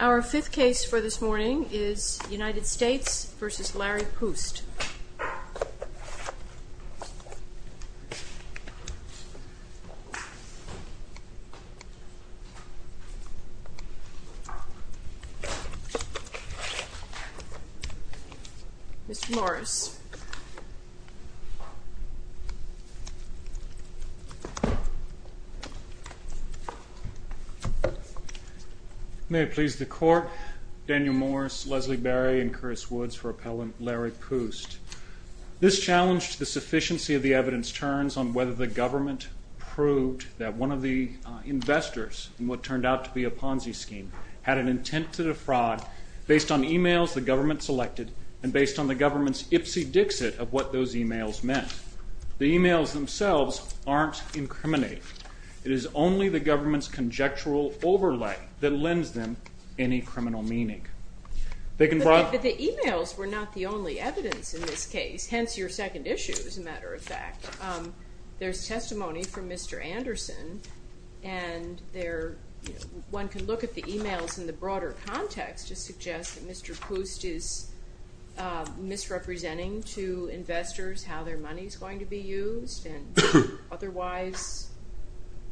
Our fifth case for this morning is United States v. Larry Pust. Mr. Morris. May it please the Court, Daniel Morris, Leslie Berry, and Chris Woods for Appellant Larry Pust. This challenge to the sufficiency of the evidence turns on whether the government proved that one of the investors in what turned out to be a Ponzi scheme had an intent to defraud based on e-mails the government selected and based on the government's ipsy-dixit of what those e-mails meant. The e-mails themselves aren't incriminating. It is only the government's conjectural overlay that lends them any criminal meaning. But the e-mails were not the only evidence in this case, hence your second issue as a matter of fact. There's testimony from Mr. Anderson and one can look at the e-mails in the broader context to suggest that Mr. Pust is misrepresenting to investors how their money is going to be used and otherwise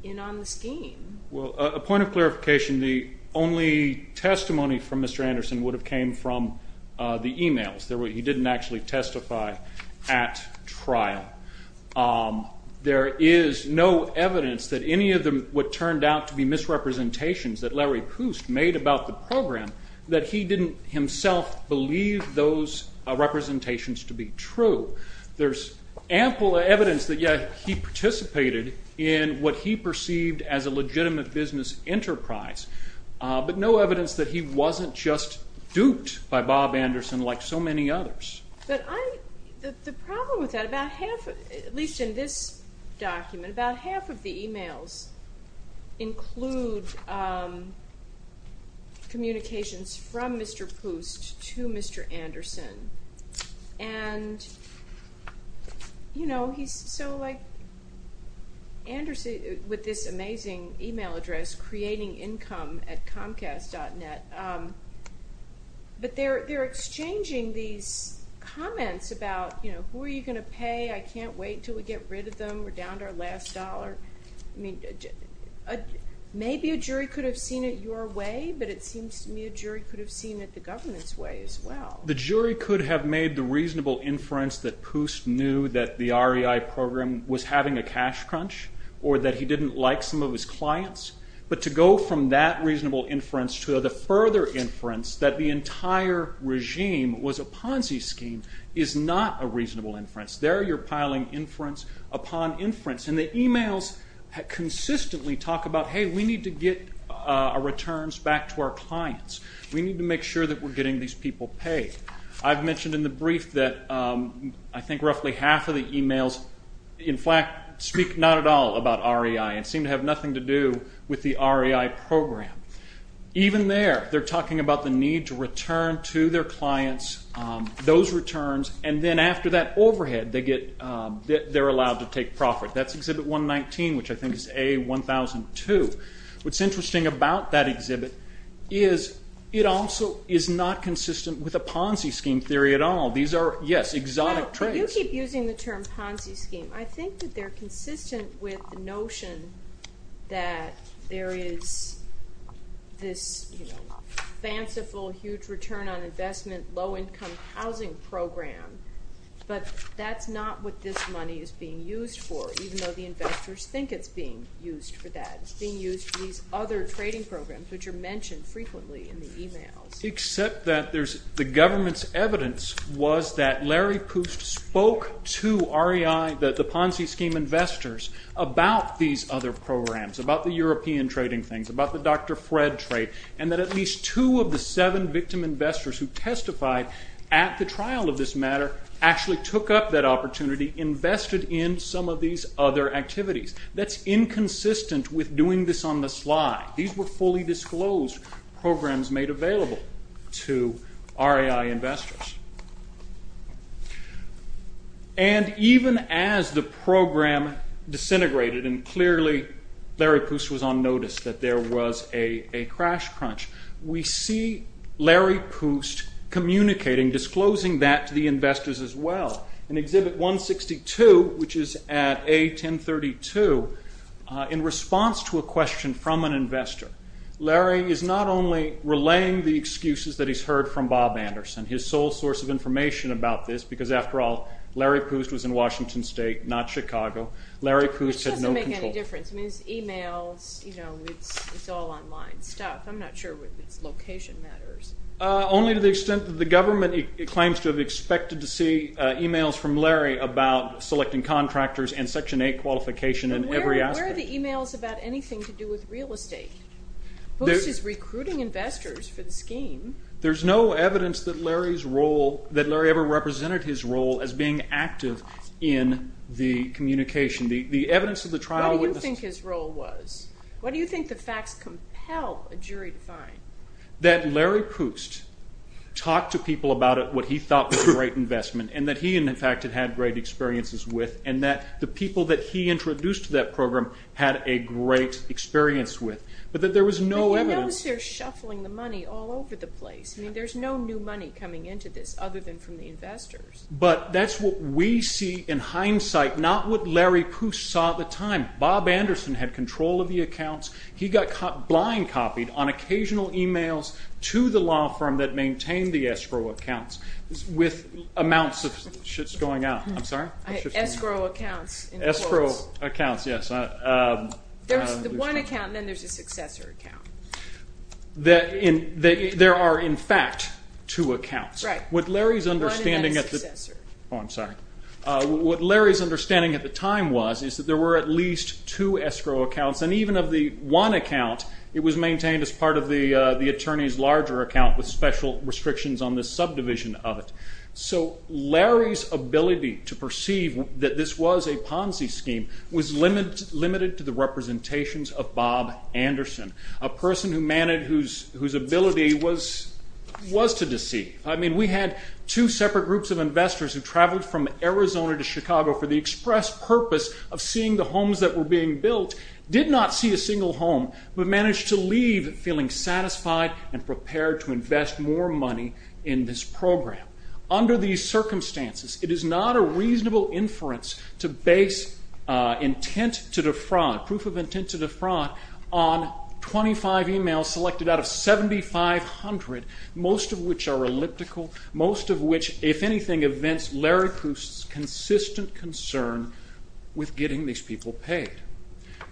in on the scheme. Well, a point of clarification, the only testimony from Mr. Anderson would have came from the e-mails. He didn't actually testify at trial. There is no evidence that any of what turned out to be misrepresentations that Larry Pust made about the program that he didn't himself believe those representations to be true. There's ample evidence that he participated in what he perceived as a legitimate business enterprise. But no evidence that he wasn't just duped by Bob Anderson like so many others. The problem with that, at least in this document, about half of the e-mails include communications from Mr. Pust to Mr. Anderson. And, you know, he's so like Anderson with this amazing e-mail address, creatingincomeatcomcast.net. But they're exchanging these comments about, you know, who are you going to pay? I can't wait until we get rid of them. We're down to our last dollar. I mean, maybe a jury could have seen it your way, but it seems to me a jury could have seen it the government's way as well. The jury could have made the reasonable inference that Pust knew that the REI program was having a cash crunch or that he didn't like some of his clients. But to go from that reasonable inference to the further inference that the entire regime was a Ponzi scheme is not a reasonable inference. There you're piling inference upon inference. And the e-mails consistently talk about, hey, we need to get our returns back to our clients. We need to make sure that we're getting these people paid. I've mentioned in the brief that I think roughly half of the e-mails, in fact, speak not at all about REI and seem to have nothing to do with the REI program. Even there, they're talking about the need to return to their clients those returns, and then after that overhead they're allowed to take profit. That's Exhibit 119, which I think is A1002. What's interesting about that exhibit is it also is not consistent with a Ponzi scheme theory at all. These are, yes, exotic traits. You keep using the term Ponzi scheme. I think that they're consistent with the notion that there is this fanciful, huge return on investment, low-income housing program, but that's not what this money is being used for, even though the investors think it's being used for that. It's being used for these other trading programs, which are mentioned frequently in the e-mails. Except that the government's evidence was that Larry Pust spoke to REI, the Ponzi scheme investors, about these other programs, about the European trading things, about the Dr. Fred trade, and that at least two of the seven victim investors who testified at the trial of this matter actually took up that opportunity, invested in some of these other activities. That's inconsistent with doing this on the slide. These were fully disclosed programs made available to REI investors. And even as the program disintegrated, and clearly Larry Pust was on notice that there was a crash crunch, we see Larry Pust communicating, disclosing that to the investors as well. In Exhibit 162, which is at A1032, in response to a question from an investor, Larry is not only relaying the excuses that he's heard from Bob Anderson, his sole source of information about this, because after all, Larry Pust was in Washington State, not Chicago. Larry Pust had no control. I mean, it's e-mails, it's all online stuff. I'm not sure whether it's location matters. Only to the extent that the government claims to have expected to see e-mails from Larry about selecting contractors and Section 8 qualification in every aspect. But where are the e-mails about anything to do with real estate? Pust is recruiting investors for the scheme. There's no evidence that Larry's role, that Larry ever represented his role as being active in the communication. The evidence of the trial witness... What do you think his role was? What do you think the facts compel a jury to find? That Larry Pust talked to people about what he thought was a great investment, and that he, in fact, had great experiences with, and that the people that he introduced to that program had a great experience with. But that there was no evidence... But you notice they're shuffling the money all over the place. I mean, there's no new money coming into this other than from the investors. But that's what we see in hindsight, not what Larry Pust saw at the time. Bob Anderson had control of the accounts. He got blind copied on occasional e-mails to the law firm that maintained the escrow accounts with amounts of shits going out. I'm sorry? Escrow accounts. Escrow accounts, yes. There's one account, and then there's a successor account. There are, in fact, two accounts. Right. One and then a successor. Oh, I'm sorry. What Larry's understanding at the time was is that there were at least two escrow accounts, and even of the one account, it was maintained as part of the attorney's larger account with special restrictions on the subdivision of it. So Larry's ability to perceive that this was a Ponzi scheme was limited to the representations of Bob Anderson, a person whose ability was to deceive. I mean, we had two separate groups of investors who traveled from Arizona to Chicago for the express purpose of seeing the homes that were being built, did not see a single home, but managed to leave feeling satisfied and prepared to invest more money in this program. Under these circumstances, it is not a reasonable inference to base intent to defraud, proof of intent to defraud, on 25 e-mails selected out of 7,500, most of which are elliptical, most of which, if anything, evince Larry Pust's consistent concern with getting these people paid.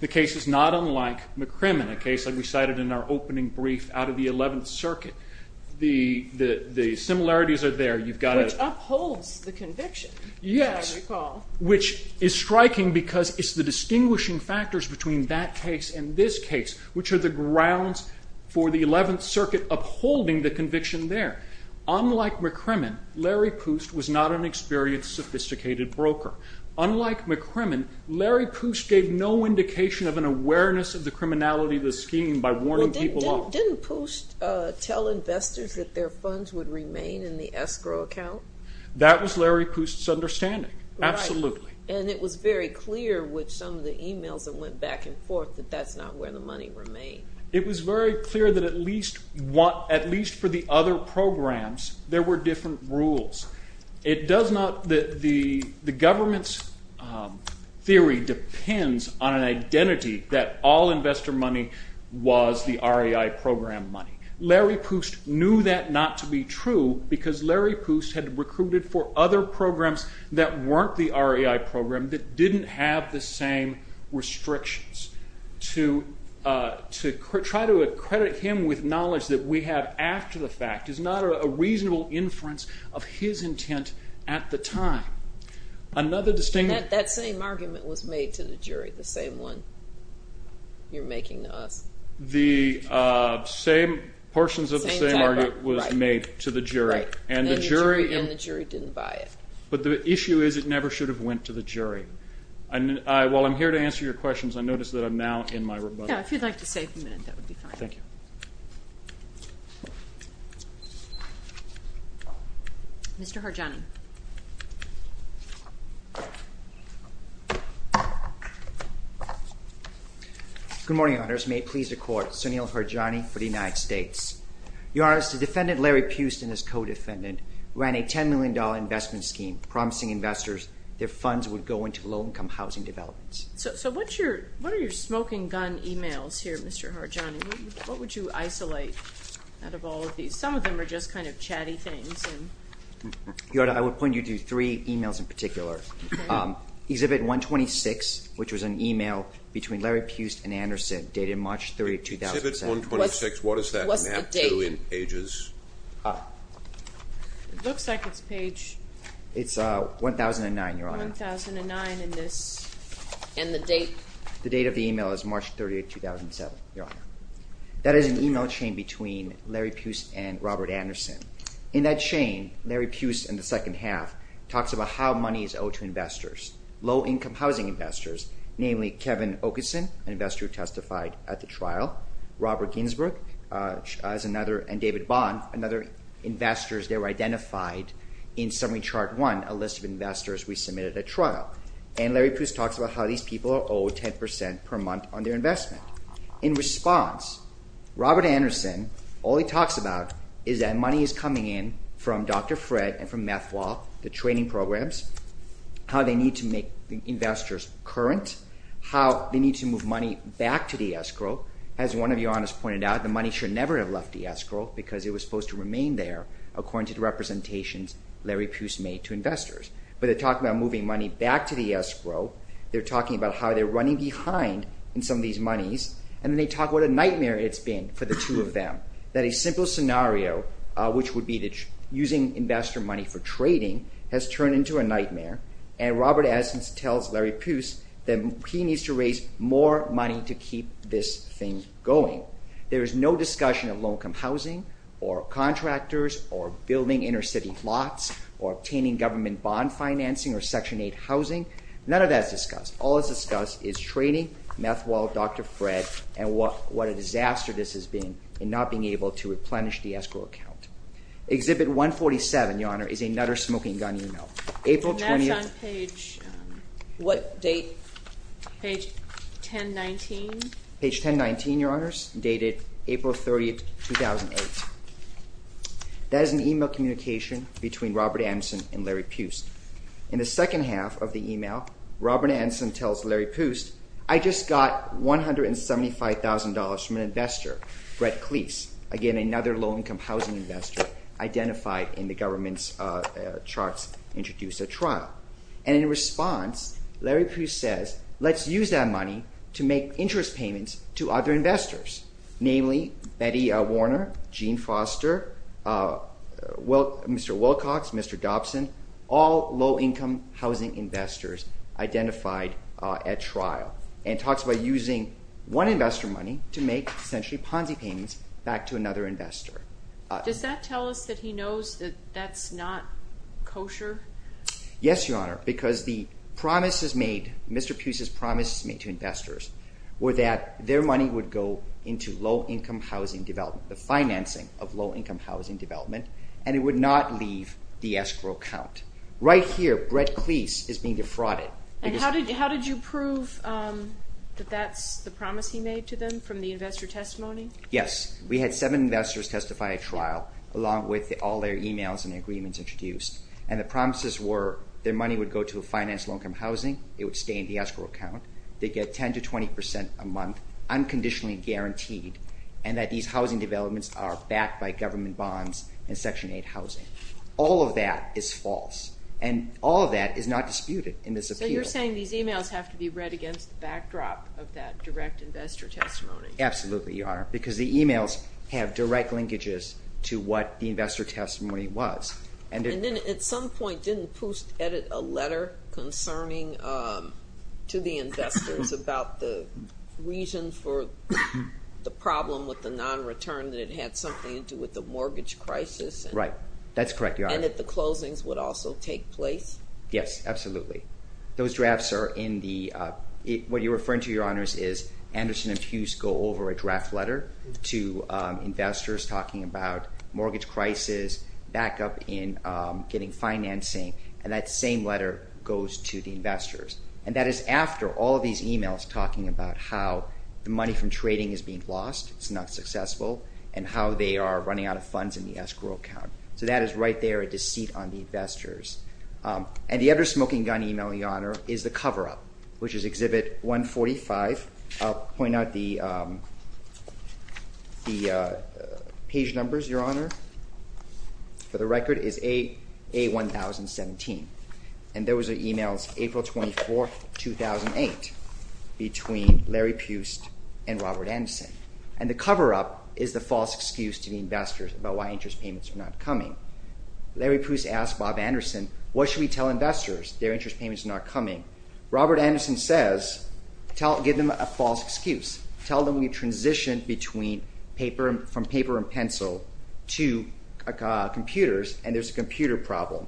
The case is not unlike McCrimmon, a case like we cited in our opening brief out of the 11th Circuit. The similarities are there. Which upholds the conviction, as I recall. Yes, which is striking because it's the distinguishing factors between that case and this case which are the grounds for the 11th Circuit upholding the conviction there. Unlike McCrimmon, Larry Pust was not an experienced, sophisticated broker. Unlike McCrimmon, Larry Pust gave no indication of an awareness of the criminality of the scheme by warning people off. Didn't Pust tell investors that their funds would remain in the escrow account? That was Larry Pust's understanding, absolutely. And it was very clear with some of the e-mails that went back and forth that that's not where the money remained. It was very clear that at least for the other programs, there were different rules. The government's theory depends on an identity that all investor money was the REI program money. Larry Pust knew that not to be true because Larry Pust had recruited for other programs that weren't the REI program that didn't have the same restrictions. To try to accredit him with knowledge that we have after the fact is not a reasonable inference of his intent at the time. That same argument was made to the jury, the same one you're making to us. The same portions of the same argument was made to the jury. And the jury didn't buy it. But the issue is it never should have went to the jury. While I'm here to answer your questions, I notice that I'm now in my rebuttal. Yeah, if you'd like to save a minute, that would be fine. Thank you. Mr. Harjani. Good morning, Your Honors. May it please the Court, Sunil Harjani for the United States. Your Honors, the defendant Larry Pust and his co-defendant ran a $10 million investment scheme promising investors their funds would go into low-income housing developments. So what are your smoking gun emails here, Mr. Harjani? What would you isolate out of all of these? Some of them are just kind of chatty things. Your Honor, I would point you to three emails in particular. Exhibit 126, which was an email between Larry Pust and Anderson dated March 3, 2007. Exhibit 126, what does that map to in pages? It looks like it's page 1,009, Your Honor. 1,009 in this. And the date? The date of the email is March 30, 2007, Your Honor. That is an email chain between Larry Pust and Robert Anderson. In that chain, Larry Pust in the second half talks about how money is owed to investors, low-income housing investors, namely Kevin Oakeson, an investor who testified at the trial, Robert Ginsberg, and David Bond, another investors that were identified in Summary Chart 1, a list of investors we submitted at trial. And Larry Pust talks about how these people are owed 10% per month on their investment. In response, Robert Anderson, all he talks about is that money is coming in from Dr. Fred and from Methwall, the training programs, how they need to make investors current, how they need to move money back to the escrow. As one of Your Honors pointed out, the money should never have left the escrow because it was supposed to remain there according to the representations Larry Pust made to investors. But they talk about moving money back to the escrow. They're talking about how they're running behind in some of these monies, and then they talk about a nightmare it's been for the two of them, that a simple scenario, which would be using investor money for trading, has turned into a nightmare. And Robert Anderson tells Larry Pust that he needs to raise more money to keep this thing going. There is no discussion of low-income housing or contractors or building inner-city lots or obtaining government bond financing or Section 8 housing. None of that is discussed. All that's discussed is training, Methwall, Dr. Fred, and what a disaster this has been in not being able to replenish the escrow account. Exhibit 147, Your Honor, is another smoking gun you know. April 20- And that's on page- What date? Page 1019. Page 1019, Your Honors, dated April 30, 2008. That is an email communication between Robert Anderson and Larry Pust. In the second half of the email, Robert Anderson tells Larry Pust, I just got $175,000 from an investor, Brett Cleese, again another low-income housing investor identified in the government's charts introduced at trial. And in response, Larry Pust says, let's use that money to make interest payments to other investors, namely Betty Warner, Gene Foster, Mr. Wilcox, Mr. Dobson, all low-income housing investors identified at trial. And talks about using one investor money to make essentially Ponzi payments back to another investor. Does that tell us that he knows that that's not kosher? Yes, Your Honor, because the promises made, Mr. Pust's promises made to investors were that their money would go into low-income housing development, the financing of low-income housing development, and it would not leave the escrow account. Right here, Brett Cleese is being defrauded. And how did you prove that that's the promise he made to them from the investor testimony? Yes, we had seven investors testify at trial along with all their emails and agreements introduced. And the promises were their money would go to finance low-income housing. It would stay in the escrow account. They get 10% to 20% a month, unconditionally guaranteed, and that these housing developments are backed by government bonds and Section 8 housing. All of that is false, and all of that is not disputed in this appeal. So you're saying these emails have to be read against the backdrop of that direct investor testimony? Absolutely, Your Honor, because the emails have direct linkages to what the investor testimony was. And then at some point, didn't Pust edit a letter concerning to the investors about the reason for the problem with the non-return that it had something to do with the mortgage crisis? Right, that's correct, Your Honor. And that the closings would also take place? Yes, absolutely. Those drafts are in the—what you're referring to, Your Honors, is Anderson and Pust go over a draft letter to investors talking about mortgage crisis, back up in getting financing, and that same letter goes to the investors. And that is after all of these emails talking about how the money from trading is being lost, it's not successful, and how they are running out of funds in the escrow account. So that is right there a deceit on the investors. And the other smoking gun email, Your Honor, is the cover-up, which is Exhibit 145. I'll point out the page numbers, Your Honor, for the record is A1017. And those are emails April 24, 2008, between Larry Pust and Robert Anderson. And the cover-up is the false excuse to the investors about why interest payments are not coming. Larry Pust asked Bob Anderson, what should we tell investors their interest payments are not coming? Robert Anderson says, give them a false excuse. Tell them we transitioned from paper and pencil to computers, and there's a computer problem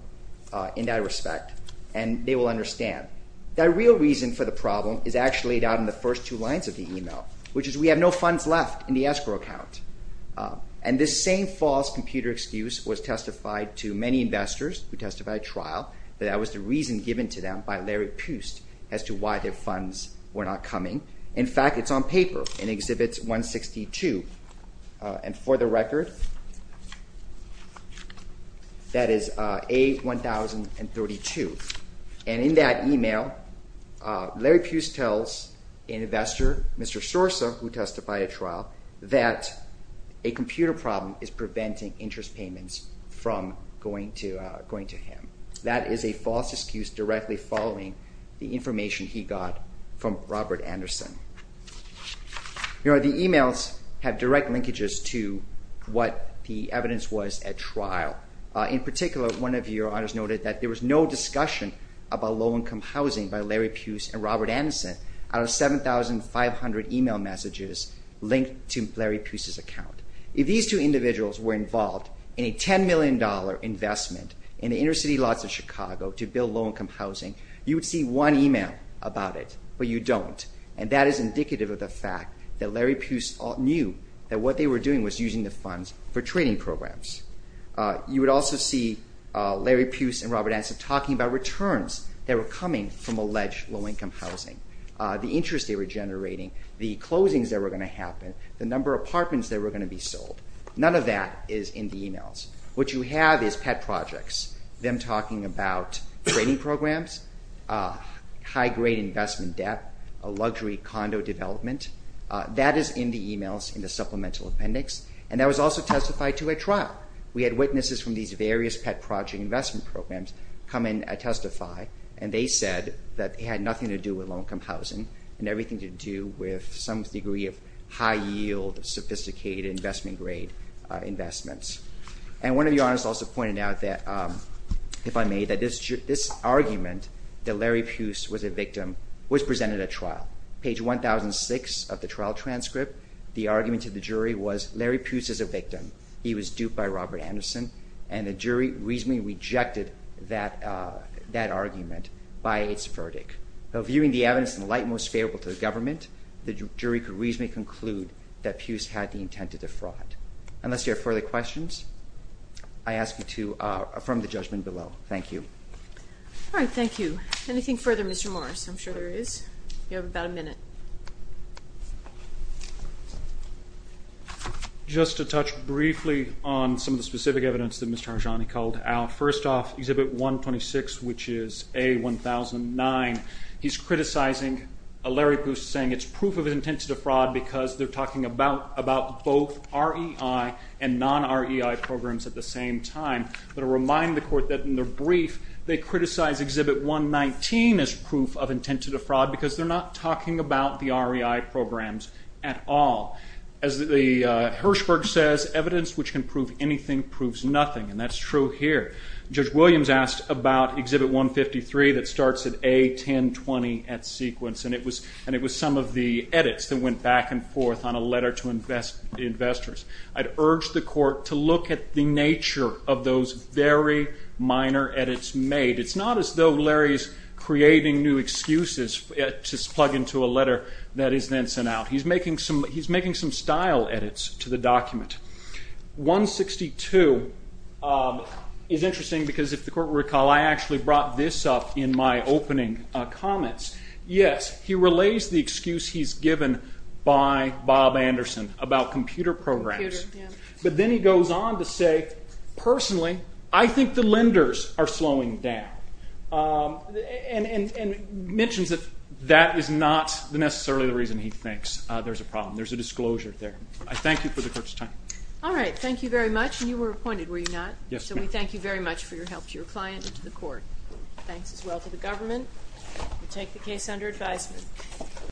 in that respect, and they will understand. The real reason for the problem is actually laid out in the first two lines of the email, which is we have no funds left in the escrow account. And this same false computer excuse was testified to many investors who testified at trial, that that was the reason given to them by Larry Pust as to why their funds were not coming. In fact, it's on paper in Exhibit 162. And for the record, that is A1032. And in that email, Larry Pust tells an investor, Mr. Sorsa, who testified at trial, that a computer problem is preventing interest payments from going to him. That is a false excuse directly following the information he got from Robert Anderson. The emails have direct linkages to what the evidence was at trial. In particular, one of your honors noted that there was no discussion about low-income housing by Larry Pust and Robert Anderson out of 7,500 email messages linked to Larry Pust's account. If these two individuals were involved in a $10 million investment in the inner city lots of Chicago to build low-income housing, you would see one email about it, but you don't. And that is indicative of the fact that Larry Pust knew that what they were doing was using the funds for training programs. You would also see Larry Pust and Robert Anderson talking about returns that were coming from alleged low-income housing, the interest they were generating, the closings that were going to happen, the number of apartments that were going to be sold. None of that is in the emails. What you have is pet projects, them talking about training programs, high-grade investment debt, luxury condo development. That is in the emails in the supplemental appendix, and that was also testified to at trial. We had witnesses from these various pet project investment programs come in and testify, and they said that it had nothing to do with low-income housing and everything to do with some degree of high-yield, sophisticated, investment-grade investments. And one of your honors also pointed out, if I may, that this argument that Larry Pust was a victim was presented at trial. Page 1006 of the trial transcript, the argument to the jury was Larry Pust is a victim. He was duped by Robert Anderson, and the jury reasonably rejected that argument by its verdict. Now, viewing the evidence in the light most favorable to the government, the jury could reasonably conclude that Pust had the intent to defraud. Unless you have further questions, I ask you to affirm the judgment below. Thank you. All right, thank you. Anything further, Mr. Morris? I'm sure there is. You have about a minute. Just to touch briefly on some of the specific evidence that Mr. Arjani called out. First off, Exhibit 126, which is A1009, he's criticizing Larry Pust, saying it's proof of intent to defraud because they're talking about both REI and non-REI programs at the same time. I want to remind the Court that in their brief, they criticize Exhibit 119 as proof of intent to defraud because they're not talking about the REI programs at all. As Hirshberg says, evidence which can prove anything proves nothing, and that's true here. Judge Williams asked about Exhibit 153 that starts at A1020 at sequence, and it was some of the edits that went back and forth on a letter to investors. I'd urge the Court to look at the nature of those very minor edits made. It's not as though Larry's creating new excuses to plug into a letter that is then sent out. He's making some style edits to the document. 162 is interesting because if the Court will recall, I actually brought this up in my opening comments. Yes, he relays the excuse he's given by Bob Anderson about computer programs, but then he goes on to say, personally, I think the lenders are slowing down and mentions that that is not necessarily the reason he thinks there's a problem. There's a disclosure there. I thank you for the Court's time. All right. Thank you very much, and you were appointed, were you not? Yes, ma'am. So we thank you very much for your help to your client and to the Court. Thanks as well to the government. We take the case under advisement.